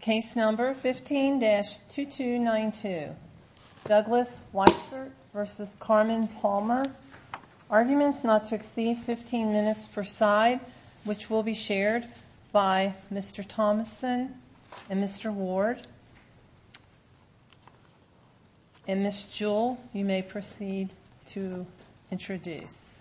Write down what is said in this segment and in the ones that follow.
Case number 15-2292, Douglas Weissert v. Carmen Palmer, arguments not to exceed 15 minutes per side, which will be shared by Mr. Thomason and Mr. Ward. And Ms. Jewell, you may proceed to introduce.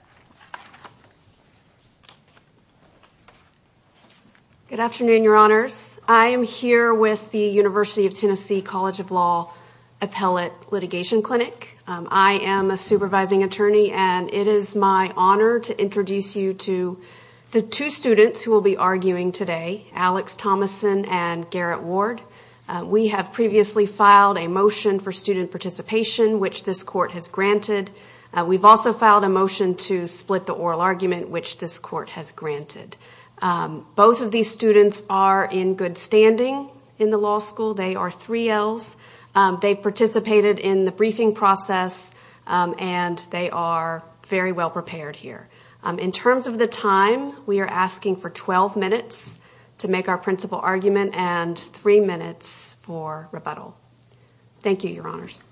Good afternoon, your honors. I am here with the University of Tennessee College of Law Appellate Litigation Clinic. I am a supervising attorney and it is my honor to introduce you to the two students who will be arguing today, Alex Thomason and Garrett Ward. We have previously filed a motion for student participation, which this court has granted. We've also filed a motion to split the oral argument, which this court has granted. Both of these students are in good standing in the law school. They are 3Ls. They participated in the briefing process and they are very well prepared here. In terms of the time, we are asking for 12 minutes to make our principal argument and three minutes for rebuttal. Thank you, your honors.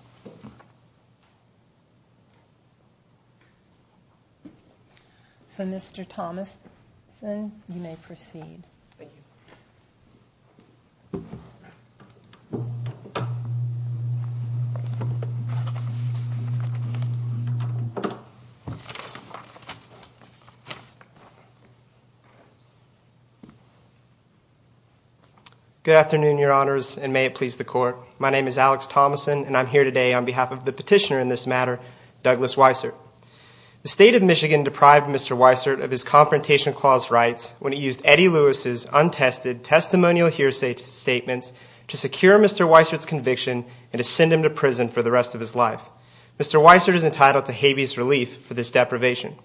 So Mr. Thomason, you may proceed. Good afternoon, your honors, and may it please the court. My name is Alex Thomason and I'm here today on behalf of the petitioner in this matter, Douglas Weisert. The state of Michigan deprived Mr. Weisert of his Confrontation Clause rights when he used Eddie Lewis's untested testimonial hearsay statements to secure Mr. Weisert's conviction and to send him to prison for the rest of his life. Mr. Weisert is entitled to habeas relief for this deprivation.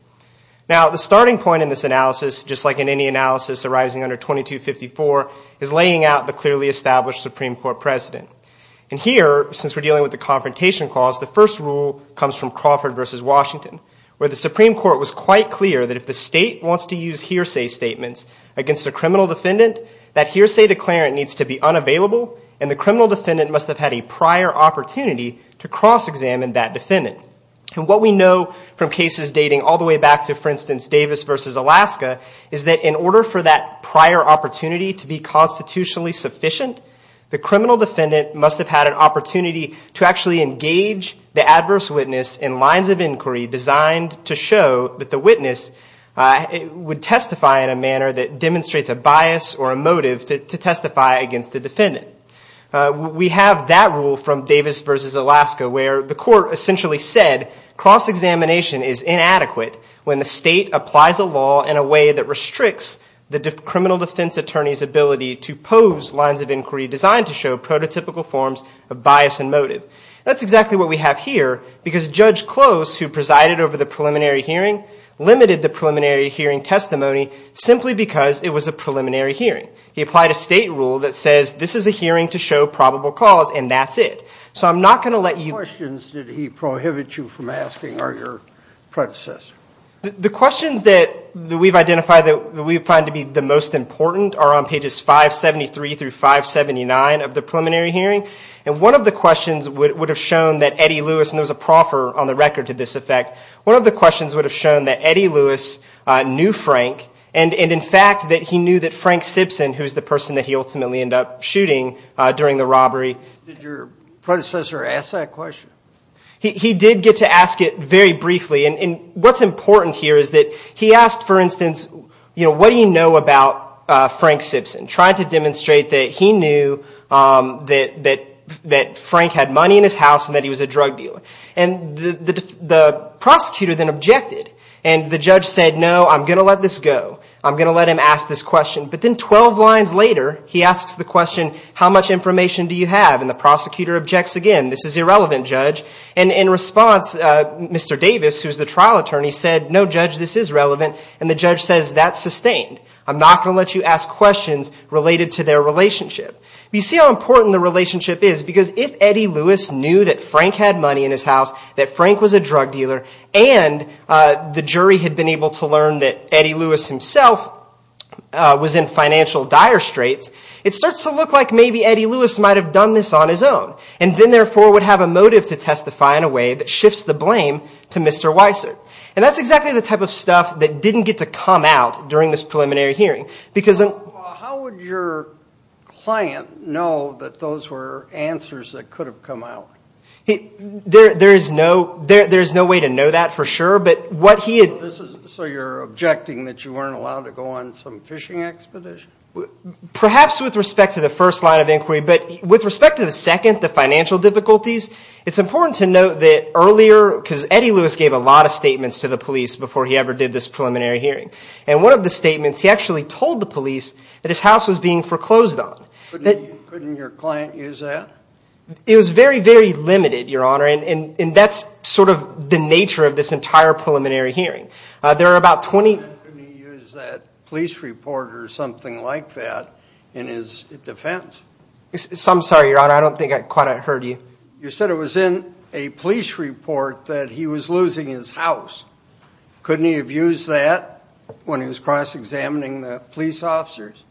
Now, the starting point in this analysis, just like in any analysis arising under 2254, is laying out the clearly established Supreme Court precedent. And here, since we're dealing with the Confrontation Clause, the first rule comes from Crawford v. Washington, where the Supreme Court was quite clear that if the state wants to use hearsay statements against a criminal defendant, that hearsay declarant needs to be unavailable and the criminal defendant must have had a prior opportunity to cross-examine that defendant. And what we know from cases dating all the way back to, for instance, Davis v. Alaska, is that in order for that prior opportunity to be constitutionally sufficient, the criminal defendant must have had an opportunity to actually engage the adverse witness in lines of inquiry designed to show that the witness would testify in a manner that demonstrates a bias or a motive to testify against the defendant. We have that rule from Davis v. Alaska, where the court essentially said cross-examination is inadequate when the state applies a law in a way that restricts the criminal defense attorney's ability to pose lines of inquiry designed to show prototypical forms of bias and motive. That's exactly what we have here, because Judge Close, who presided over the preliminary hearing, limited the preliminary hearing testimony simply because it was a preliminary hearing. He applied a state rule that says this is a hearing to show probable cause, and that's it. So I'm not going to let you... Which questions did he prohibit you from asking, or your predecessor? The questions that we've identified that we find to be the most important are on pages 573 through 579 of the preliminary hearing. And one of the questions would have shown that Eddie Lewis, and there was a proffer on the record to this effect, one of the questions would have shown that Eddie Lewis knew Frank, and in fact that he knew that Frank Simpson, who was the person that he ultimately ended up shooting during the robbery... Did your predecessor ask that question? He did get to ask it very briefly. And what's important here is that he asked, for instance, what do you know about Frank Simpson, trying to demonstrate that he knew that Frank had money in his house and that he was a drug dealer. And the prosecutor then objected. And the judge said, no, I'm going to let this go. I'm going to let him ask this question. But then 12 lines later, he asks the question, how much information do you have? And the prosecutor objects again, this is irrelevant, judge. And in response, Mr. Davis, who's the trial attorney, said, no, judge, this is relevant. And the judge says, that's sustained. I'm not going to let you ask questions related to their relationship. You see how important the relationship is? Because if Eddie Lewis knew that Frank had money in his house, that Frank was a drug dealer, and the jury had been able to learn that Eddie Lewis himself was in financial dire straits, it starts to look like maybe Eddie Lewis might have done this on his own, and then therefore would have a motive to testify in a way that shifts the blame to Mr. Weiser. And that's exactly the type of stuff that didn't get to come out during this preliminary hearing. How would your client know that those were answers that could have come out? There is no way to know that for sure. So you're objecting that you weren't allowed to go on some fishing expedition? Perhaps with respect to the first line of inquiry. But with respect to the second, the financial difficulties, it's important to note that earlier, because Eddie Lewis gave a lot of statements to the police before he ever did this preliminary hearing. And one of the statements, he actually told the police that his house was being foreclosed on. Couldn't your client use that? It was very, very limited, Your Honor, and that's sort of the nature of this entire preliminary hearing. There are about 20— Couldn't he use that police report or something like that in his defense? I'm sorry, Your Honor, I don't think I quite heard you. You said it was in a police report that he was losing his house. Couldn't he have used that when he was cross-examining the police officers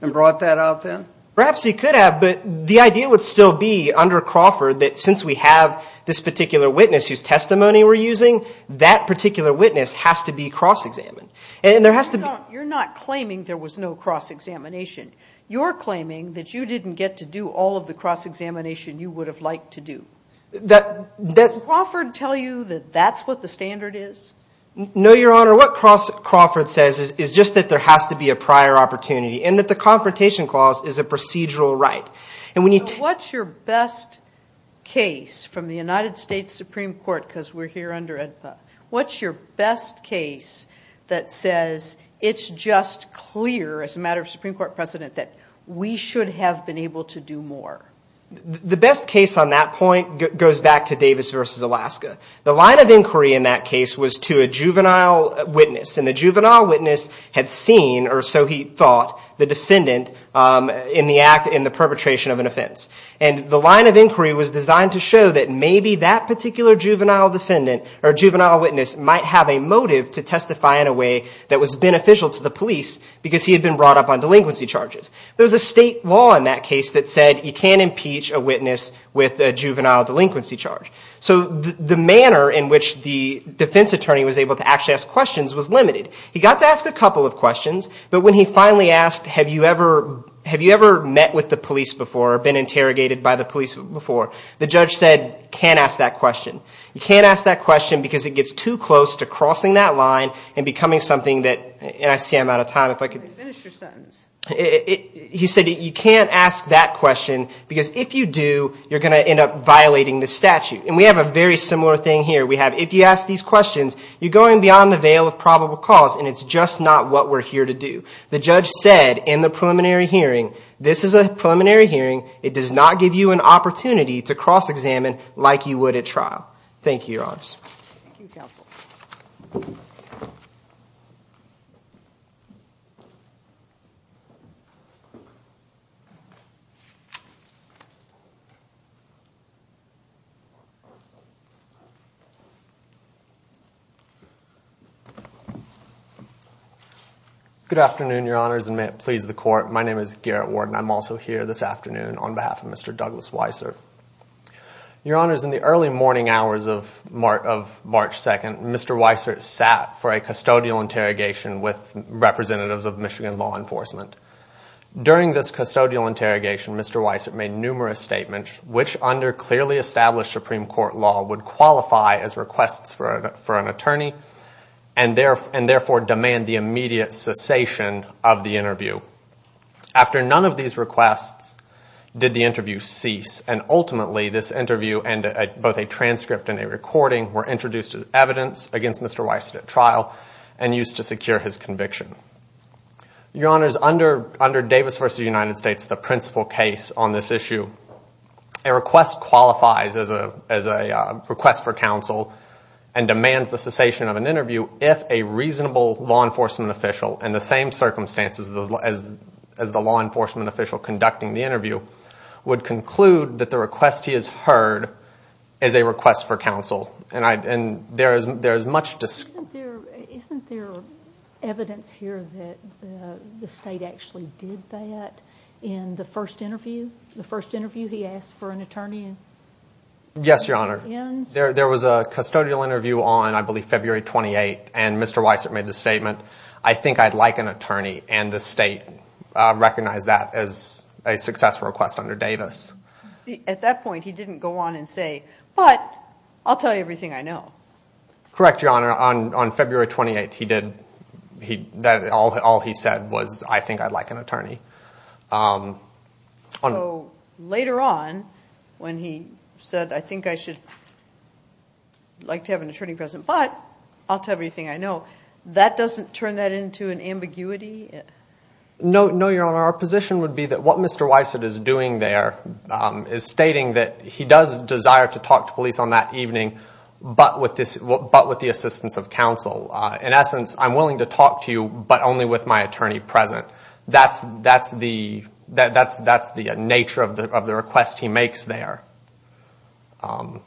and brought that out then? Perhaps he could have, but the idea would still be under Crawford that since we have this particular witness whose testimony we're using, that particular witness has to be cross-examined. You're not claiming there was no cross-examination. You're claiming that you didn't get to do all of the cross-examination you would have liked to do. Does Crawford tell you that that's what the standard is? No, Your Honor, what Crawford says is just that there has to be a prior opportunity and that the Confrontation Clause is a procedural right. What's your best case from the United States Supreme Court, because we're here under ENPA, what's your best case that says it's just clear, as a matter of Supreme Court precedent, that we should have been able to do more? The best case on that point goes back to Davis v. Alaska. The line of inquiry in that case was to a juvenile witness, and the juvenile witness had seen, or so he thought, the defendant in the perpetration of an offense. And the line of inquiry was designed to show that maybe that particular juvenile witness might have a motive to testify in a way that was beneficial to the police because he had been brought up on delinquency charges. There's a state law in that case that said you can't impeach a witness with a juvenile delinquency charge. So the manner in which the defense attorney was able to actually ask questions was limited. He got to ask a couple of questions, but when he finally asked, have you ever met with the police before or been interrogated by the police before, the judge said, can't ask that question. You can't ask that question because it gets too close to crossing that line and becoming something that, and I see I'm out of time. Finish your sentence. He said you can't ask that question because if you do, you're going to end up violating the statute. And we have a very similar thing here. We have if you ask these questions, you're going beyond the veil of probable cause, and it's just not what we're here to do. The judge said in the preliminary hearing, this is a preliminary hearing. It does not give you an opportunity to cross-examine like you would at trial. Thank you, Your Honors. Thank you, Counsel. Garrett Ward Good afternoon, Your Honors, and may it please the Court. My name is Garrett Ward, and I'm also here this afternoon on behalf of Mr. Douglas Weiser. Your Honors, in the early morning hours of March 2nd, Mr. Weiser sat for a custodial interrogation with representatives of Michigan law enforcement. During this custodial interrogation, Mr. Weiser made numerous statements, which under clearly established Supreme Court law would qualify as requests for an attorney and therefore demand the immediate cessation of the interview. After none of these requests, did the interview cease, and ultimately this interview and both a transcript and a recording were introduced as evidence against Mr. Weiser at trial and used to secure his conviction. Your Honors, under Davis v. United States, the principal case on this issue, a request qualifies as a request for counsel and demands the cessation of an interview if a reasonable law enforcement official in the same circumstances as the law enforcement official conducting the interview would conclude that the request he has heard is a request for counsel. Isn't there evidence here that the State actually did that in the first interview? The first interview he asked for an attorney? Yes, Your Honor. There was a custodial interview on, I believe, February 28th, and Mr. Weiser made the statement, I think I'd like an attorney, and the State recognized that as a successful request under Davis. At that point, he didn't go on and say, but I'll tell you everything I know. Correct, Your Honor. On February 28th, all he said was, I think I'd like an attorney. Later on, when he said, I think I'd like to have an attorney present, but I'll tell you everything I know, that doesn't turn that into an ambiguity? No, Your Honor. Our position would be that what Mr. Weiser is doing there is stating that he does desire to talk to police on that evening, but with the assistance of counsel. In essence, I'm willing to talk to you, but only with my attorney present. That's the nature of the request he makes there.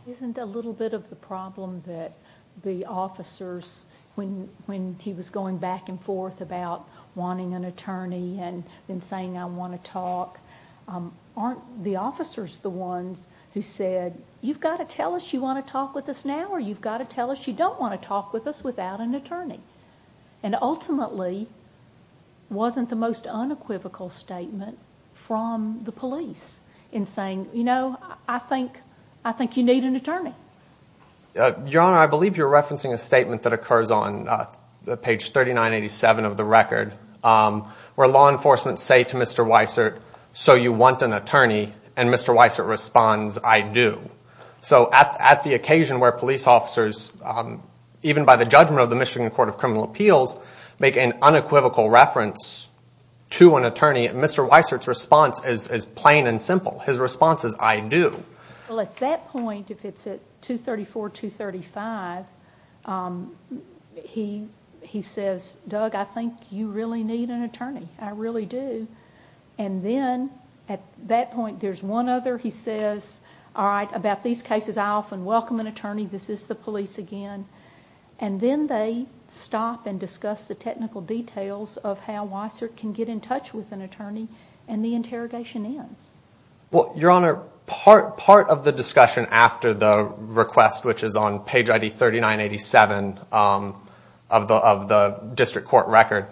Isn't a little bit of the problem that the officers, when he was going back and forth about wanting an attorney and saying I want to talk, aren't the officers the ones who said, you've got to tell us you want to talk with us now, or you've got to tell us you don't want to talk with us without an attorney? And ultimately, wasn't the most unequivocal statement from the police in saying, you know, I think you need an attorney? Your Honor, I believe you're referencing a statement that occurs on page 3987 of the record, where law enforcement say to Mr. Weiser, so you want an attorney, and Mr. Weiser responds, I do. So at the occasion where police officers, even by the judgment of the Michigan Court of Criminal Appeals, make an unequivocal reference to an attorney, Mr. Weiser's response is plain and simple. His response is, I do. Well, at that point, if it's at 234, 235, he says, Doug, I think you really need an attorney. I really do. And then at that point there's one other. He says, all right, about these cases I often welcome an attorney. This is the police again. And then they stop and discuss the technical details of how Weiser can get in touch with an attorney, and the interrogation ends. Well, Your Honor, part of the discussion after the request, which is on page ID 3987 of the district court record,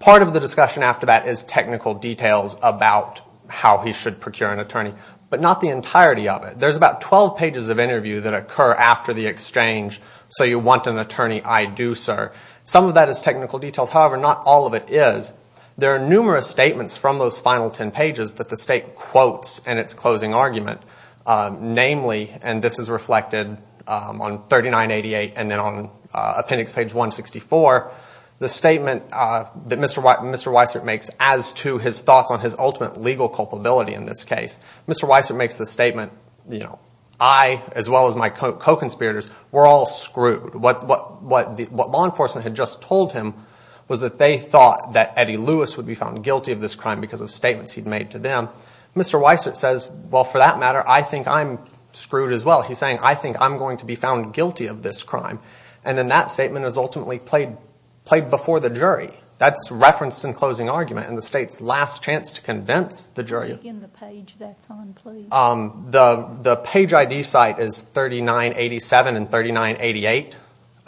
part of the discussion after that is technical details about how he should procure an attorney, but not the entirety of it. There's about 12 pages of interview that occur after the exchange, so you want an attorney, I do, sir. Some of that is technical details. However, not all of it is. There are numerous statements from those final 10 pages that the State quotes in its closing argument. Namely, and this is reflected on 3988 and then on appendix page 164, the statement that Mr. Weiser makes as to his thoughts on his ultimate legal culpability in this case. Mr. Weiser makes the statement, I, as well as my co-conspirators, were all screwed. What law enforcement had just told him was that they thought that Eddie Lewis would be found guilty of this crime because of statements he'd made to them. Mr. Weiser says, well, for that matter, I think I'm screwed as well. He's saying, I think I'm going to be found guilty of this crime. And then that statement is ultimately played before the jury. That's referenced in closing argument in the State's last chance to convince the jury. The page ID site is 3987 and 3988.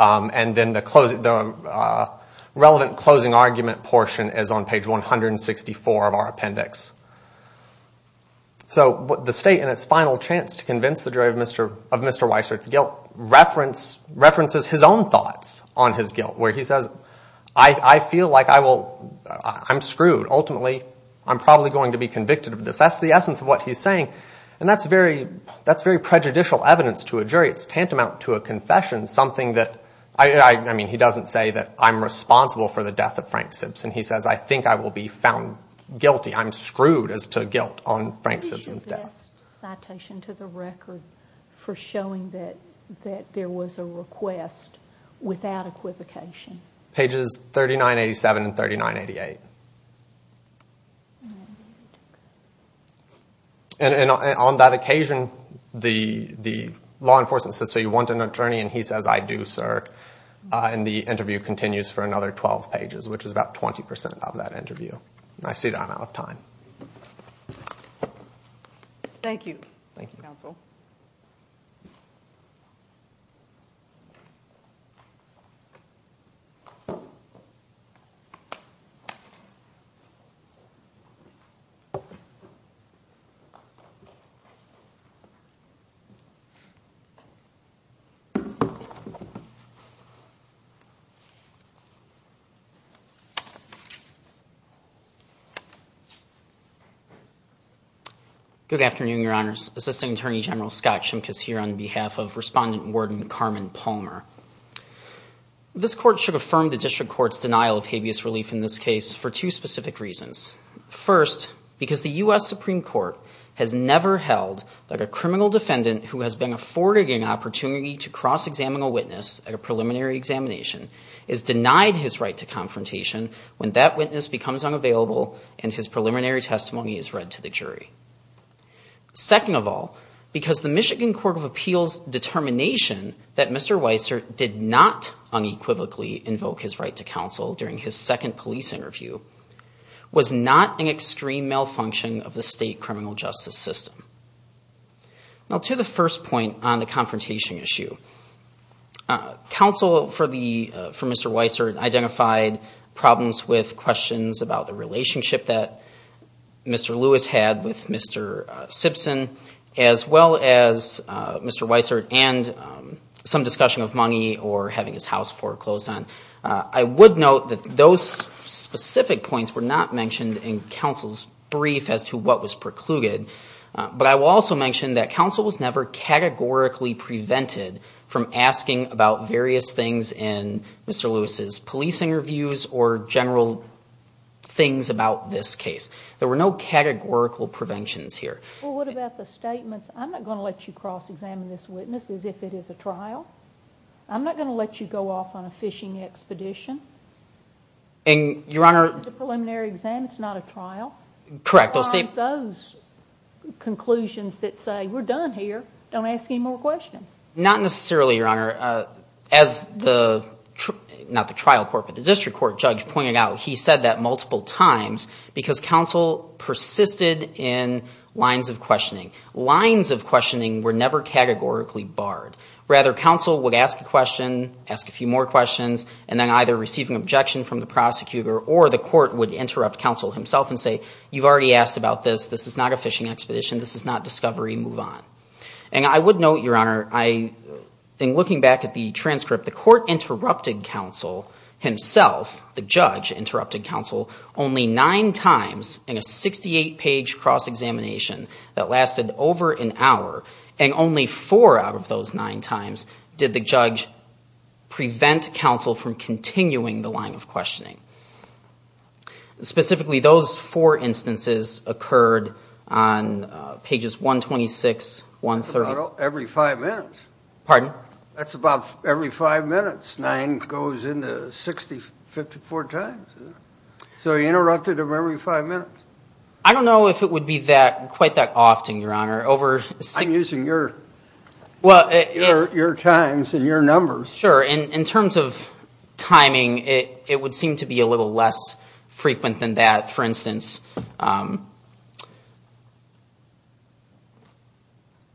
And then the relevant closing argument portion is on page 164 of our appendix. So the State in its final chance to convince the jury of Mr. Weiser's guilt references his own thoughts on his guilt where he says, I feel like I'm screwed. Ultimately, I'm probably going to be convicted of this. That's the essence of what he's saying. And that's very prejudicial evidence to a jury. It's tantamount to a confession, something that, I mean, he doesn't say that I'm responsible for the death of Frank Simpson. He says, I think I will be found guilty. I'm screwed as to guilt on Frank Simpson's death. Just a citation to the record for showing that there was a request without equivocation. Pages 3987 and 3988. And on that occasion, the law enforcement says, so you want an attorney? And he says, I do, sir. And the interview continues for another 12 pages, which is about 20% of that interview. I sit on out of time. Thank you. Thank you, counsel. Good afternoon, Your Honors. Assistant Attorney General Scott Shimkus here on behalf of Respondent Warden Carmen Palmer. This court should affirm the district court's denial of habeas relief in this case for two specific reasons. First, because the U.S. Supreme Court has never held that a criminal defendant who has been afforded an opportunity to cross-examine a witness at a preliminary examination is denied his right to confrontation when that witness becomes unavailable and his preliminary testimony is read to the jury. Second of all, because the Michigan Court of Appeals determination that Mr. Weiser did not unequivocally invoke his right to counsel during his second police interview was not an extreme malfunction of the state criminal justice system. Now, to the first point on the confrontation issue. Counsel for Mr. Weiser identified problems with questions about the relationship that Mr. Lewis had with Mr. Simpson, as well as Mr. Weiser and some discussion of money or having his house foreclosed on. I would note that those specific points were not mentioned in counsel's brief as to what was precluded. But I will also mention that counsel was never categorically prevented from asking about various things in Mr. Lewis's policing reviews or general things about this case. There were no categorical preventions here. Well, what about the statements, I'm not going to let you cross-examine this witness as if it is a trial. I'm not going to let you go off on a fishing expedition. Your Honor. It's a preliminary exam, it's not a trial. Correct. Those conclusions that say we're done here, don't ask any more questions. Not necessarily, Your Honor. As the, not the trial court, but the district court judge pointed out, he said that multiple times because counsel persisted in lines of questioning. Lines of questioning were never categorically barred. Rather, counsel would ask a question, ask a few more questions, and then either receive an objection from the prosecutor or the court would interrupt counsel himself and say, you've already asked about this, this is not a fishing expedition, this is not discovery, move on. And I would note, Your Honor, in looking back at the transcript, the court interrupted counsel himself, the judge interrupted counsel, only nine times in a 68-page cross-examination that lasted over an hour. And only four out of those nine times did the judge prevent counsel from continuing the line of questioning. Specifically, those four instances occurred on pages 126, 130. That's about every five minutes. Pardon? That's about every five minutes. Nine goes into 60, 54 times. So he interrupted him every five minutes. I don't know if it would be that, quite that often, Your Honor. I'm using your times and your numbers. Sure. In terms of timing, it would seem to be a little less frequent than that. For instance,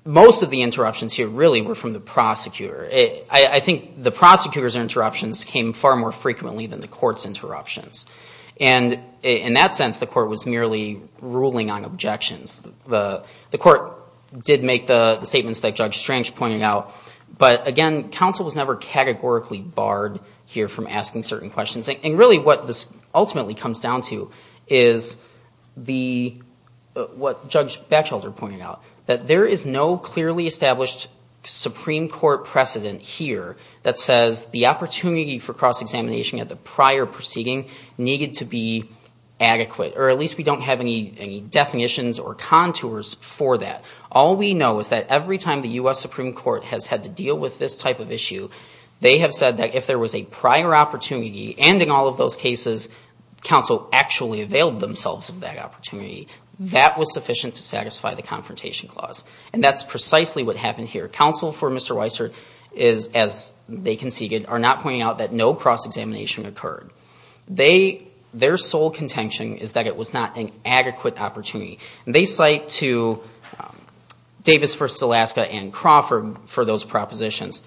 most of the interruptions here really were from the prosecutor. I think the prosecutor's interruptions came far more frequently than the court's interruptions. And in that sense, the court was merely ruling on objections. The court did make the statements that Judge Strange pointed out. But again, counsel was never categorically barred here from asking certain questions. And really what this ultimately comes down to is what Judge Batchelder pointed out, that there is no clearly established Supreme Court precedent here that says the opportunity for cross-examination at the prior proceeding needed to be adequate. Or at least we don't have any definitions or contours for that. All we know is that every time the U.S. Supreme Court has had to deal with this type of issue, they have said that if there was a prior opportunity, and in all of those cases, counsel actually availed themselves of that opportunity, that was sufficient to satisfy the Confrontation Clause. And that's precisely what happened here. Counsel for Mr. Weiser is, as they conceded, are not pointing out that no cross-examination occurred. Their sole contention is that it was not an adequate opportunity. They cite to Davis v. Alaska and Crawford for those propositions.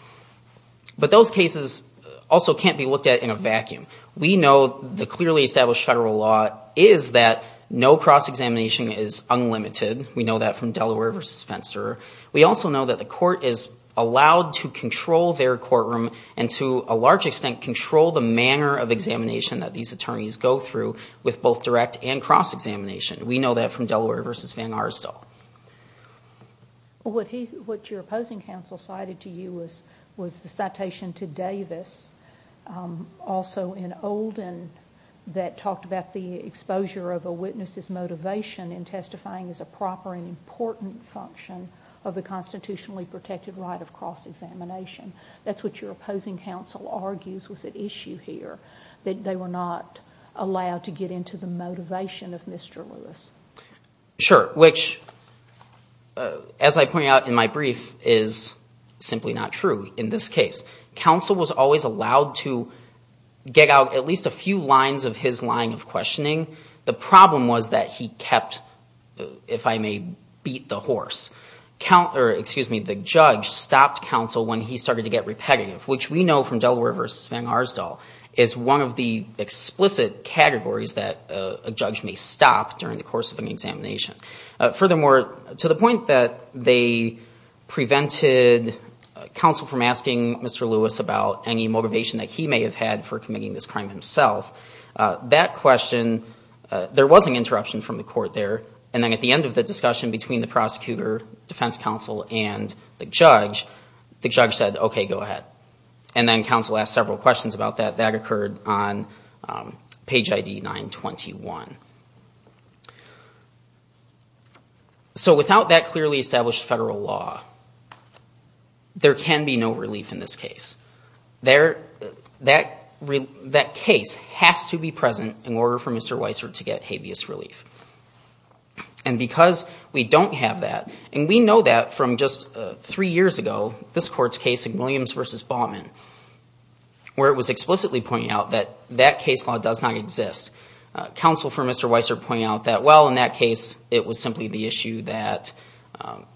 But those cases also can't be looked at in a vacuum. We know the clearly established federal law is that no cross-examination is unlimited. We know that from Delaware v. Fenster. We also know that the court is allowed to control their courtroom and to a large extent control the manner of examination that these attorneys go through with both direct and cross-examination. We know that from Delaware v. Van Aerstel. What your opposing counsel cited to you was the citation to Davis, also in Olden that talked about the exposure of a witness's motivation in testifying as a proper and important function of the constitutionally protected right of cross-examination. That's what your opposing counsel argues was at issue here, that they were not allowed to get into the motivation of Mr. Lewis. Sure, which, as I pointed out in my brief, is simply not true in this case. Counsel was always allowed to get out at least a few lines of his line of questioning. The problem was that he kept, if I may beat the horse, the judge stopped counsel when he started to get repetitive, which we know from Delaware v. Van Aerstel is one of the explicit categories that a judge may stop during the course of an examination. Furthermore, to the point that they prevented counsel from asking Mr. Lewis about any motivation that he may have had for committing this crime himself, that question, there was an interruption from the court there, and then at the end of the discussion between the prosecutor, defense counsel, and the judge, the judge said, okay, go ahead. And then counsel asked several questions about that. That occurred on page ID 921. So without that clearly established federal law, there can be no relief in this case. That case has to be present in order for Mr. Weiser to get habeas relief. And because we don't have that, and we know that from just three years ago, this court's case in Williams v. Baumann, where it was explicitly pointed out that that case law does not exist. Counsel for Mr. Weiser pointed out that, well, in that case, it was simply the issue that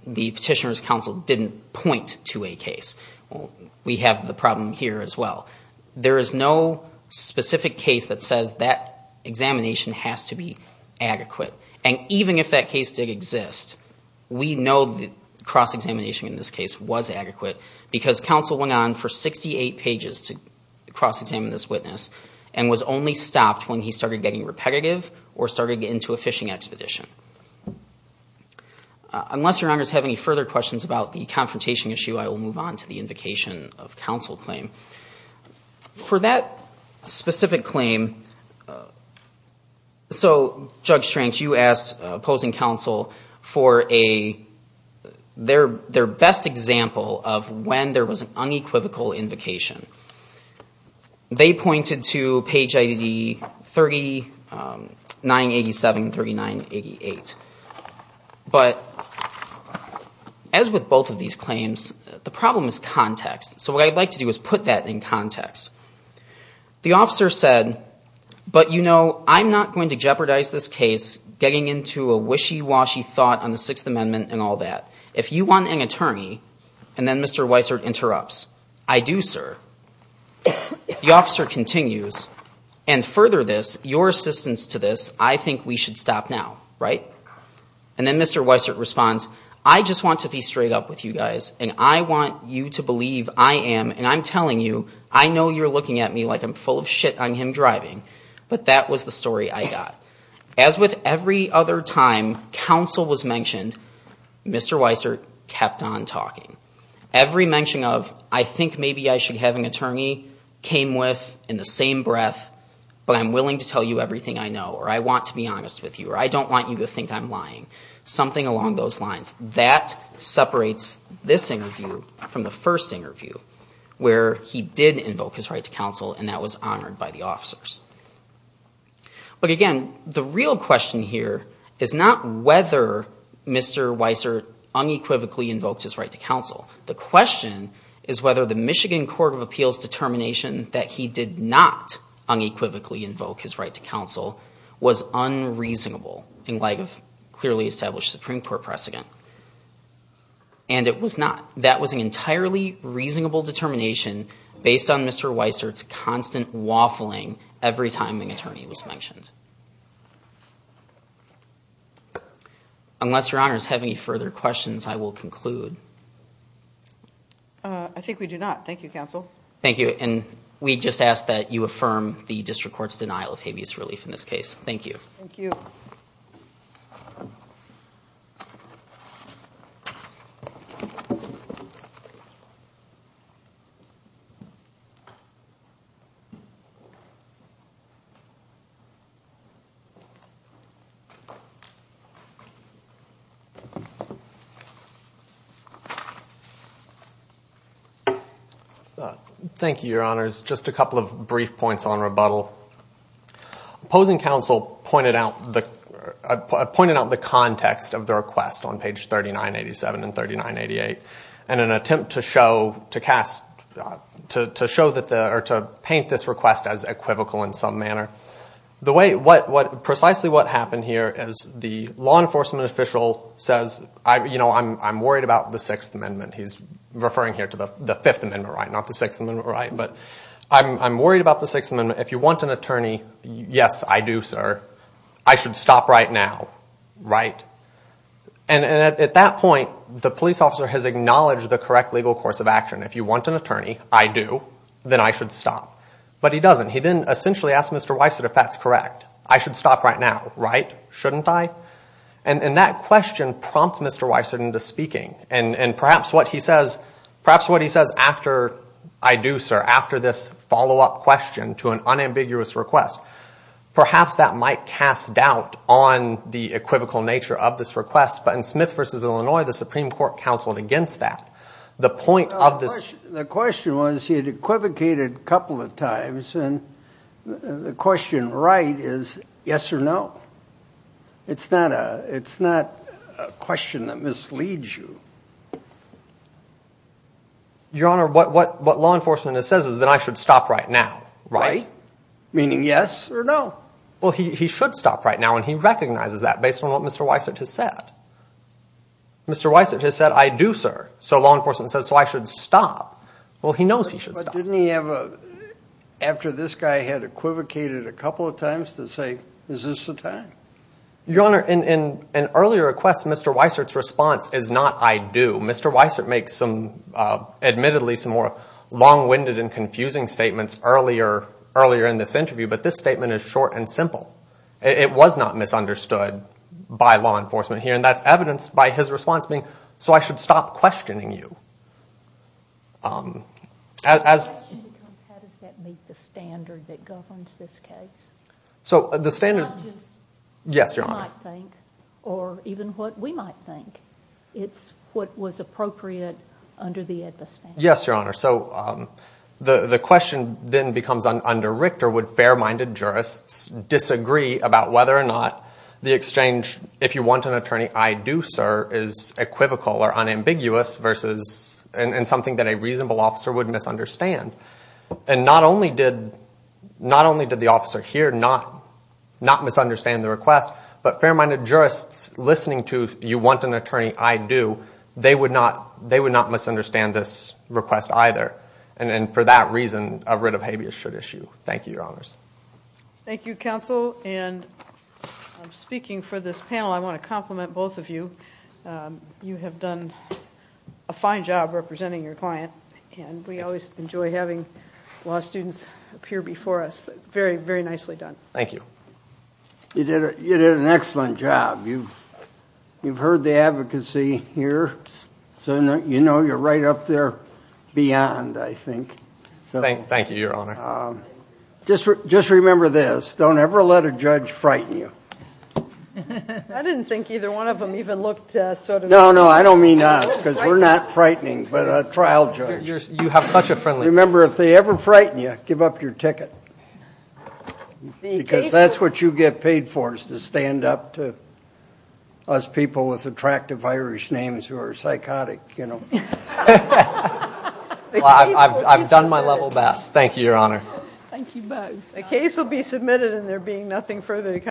the petitioner's counsel didn't point to a case. We have the problem here as well. There is no specific case that says that examination has to be adequate. And even if that case did exist, we know that cross-examination in this case was adequate because counsel went on for 68 pages to cross-examine this witness and was only stopped when he started getting repetitive or started getting into a fishing expedition. Unless your honors have any further questions about the confrontation issue, I will move on to the invocation of counsel claim. For that specific claim, so, Judge Schrenk, you asked opposing counsel for their best example of when there was an unequivocal invocation. They pointed to page ID 3987, 3988. But as with both of these claims, the problem is context. So what I'd like to do is put that in context. The officer said, but, you know, I'm not going to jeopardize this case getting into a wishy-washy thought on the Sixth Amendment and all that. If you want an attorney, and then Mr. Weiser interrupts, I do, sir. The officer continues, and further this, your assistance to this, I think we should stop now, right? And then Mr. Weiser responds, I just want to be straight up with you guys and I want you to believe I am, and I'm telling you, I know you're looking at me like I'm full of shit on him driving, but that was the story I got. As with every other time counsel was mentioned, Mr. Weiser kept on talking. Every mention of I think maybe I should have an attorney came with in the same breath, but I'm willing to tell you everything I know or I want to be honest with you or I don't want you to think I'm lying, something along those lines. That separates this interview from the first interview where he did invoke his right to counsel and that was honored by the officers. But again, the real question here is not whether Mr. Weiser unequivocally invoked his right to counsel. The question is whether the Michigan Court of Appeals determination that he did not unequivocally invoke his right to counsel was unreasonable in light of clearly established Supreme Court precedent. And it was not. That was an entirely reasonable determination based on Mr. Weiser's constant waffling every time an attorney was mentioned. Unless your honors have any further questions, I will conclude. I think we do not. Thank you, counsel. Thank you. And we just ask that you affirm the district court's denial of habeas relief in this case. Thank you. Thank you. Thank you, your honors. Just a couple of brief points on rebuttal. Opposing counsel pointed out the context of the request on page 3987 and 3988 in an attempt to paint this request as equivocal in some manner. Precisely what happened here is the law enforcement official says, I'm worried about the Sixth Amendment. He's referring here to the Fifth Amendment right, not the Sixth Amendment right. But I'm worried about the Sixth Amendment. If you want an attorney, yes, I do, sir. I should stop right now, right? And at that point, the police officer has acknowledged the correct legal course of action. If you want an attorney, I do, then I should stop. But he doesn't. He then essentially asks Mr. Weiser if that's correct. I should stop right now, right? Shouldn't I? And that question prompts Mr. Weiser into speaking. And perhaps what he says after I do, sir, after this follow-up question to an unambiguous request, perhaps that might cast doubt on the equivocal nature of this request. But in Smith v. Illinois, the Supreme Court counseled against that. The point of this – The question was he had equivocated a couple of times, and the question right is yes or no. It's not a question that misleads you. Your Honor, what law enforcement says is that I should stop right now, right? Meaning yes or no. Well, he should stop right now, and he recognizes that based on what Mr. Weiser has said. Mr. Weiser has said, I do, sir. So law enforcement says, so I should stop. Well, he knows he should stop. But didn't he have a – after this guy had equivocated a couple of times to say, is this the time? Your Honor, in an earlier request, Mr. Weiser's response is not I do. Mr. Weiser makes some – admittedly some more long-winded and confusing statements earlier in this interview, but this statement is short and simple. It was not misunderstood by law enforcement here, and that's evidenced by his response being, so I should stop questioning you. The question becomes how does that meet the standard that governs this case? So the standard – Not just what you might think or even what we might think. It's what was appropriate under the AEDBA standard. Yes, Your Honor. So the question then becomes, under Richter, would fair-minded jurists disagree about whether or not the exchange, if you want an attorney, I do, sir, is equivocal or unambiguous versus – and something that a reasonable officer would misunderstand. And not only did the officer here not misunderstand the request, but fair-minded jurists listening to you want an attorney, I do, they would not misunderstand this request either. And for that reason, a writ of habeas should issue. Thank you, Your Honors. Thank you, Counsel. And speaking for this panel, I want to compliment both of you. You have done a fine job representing your client, and we always enjoy having law students appear before us. Very, very nicely done. Thank you. You did an excellent job. You've heard the advocacy here, so you know you're right up there beyond, I think. Thank you, Your Honor. Just remember this. Don't ever let a judge frighten you. I didn't think either one of them even looked sort of – No, no, I don't mean us, because we're not frightening, but a trial judge. You have such a friendly – Remember, if they ever frighten you, give up your ticket. Because that's what you get paid for is to stand up to us people with attractive Irish names who are psychotic, you know. I've done my level best. Thank you, Your Honor. Thank you both. A case will be submitted, and there being nothing further to come.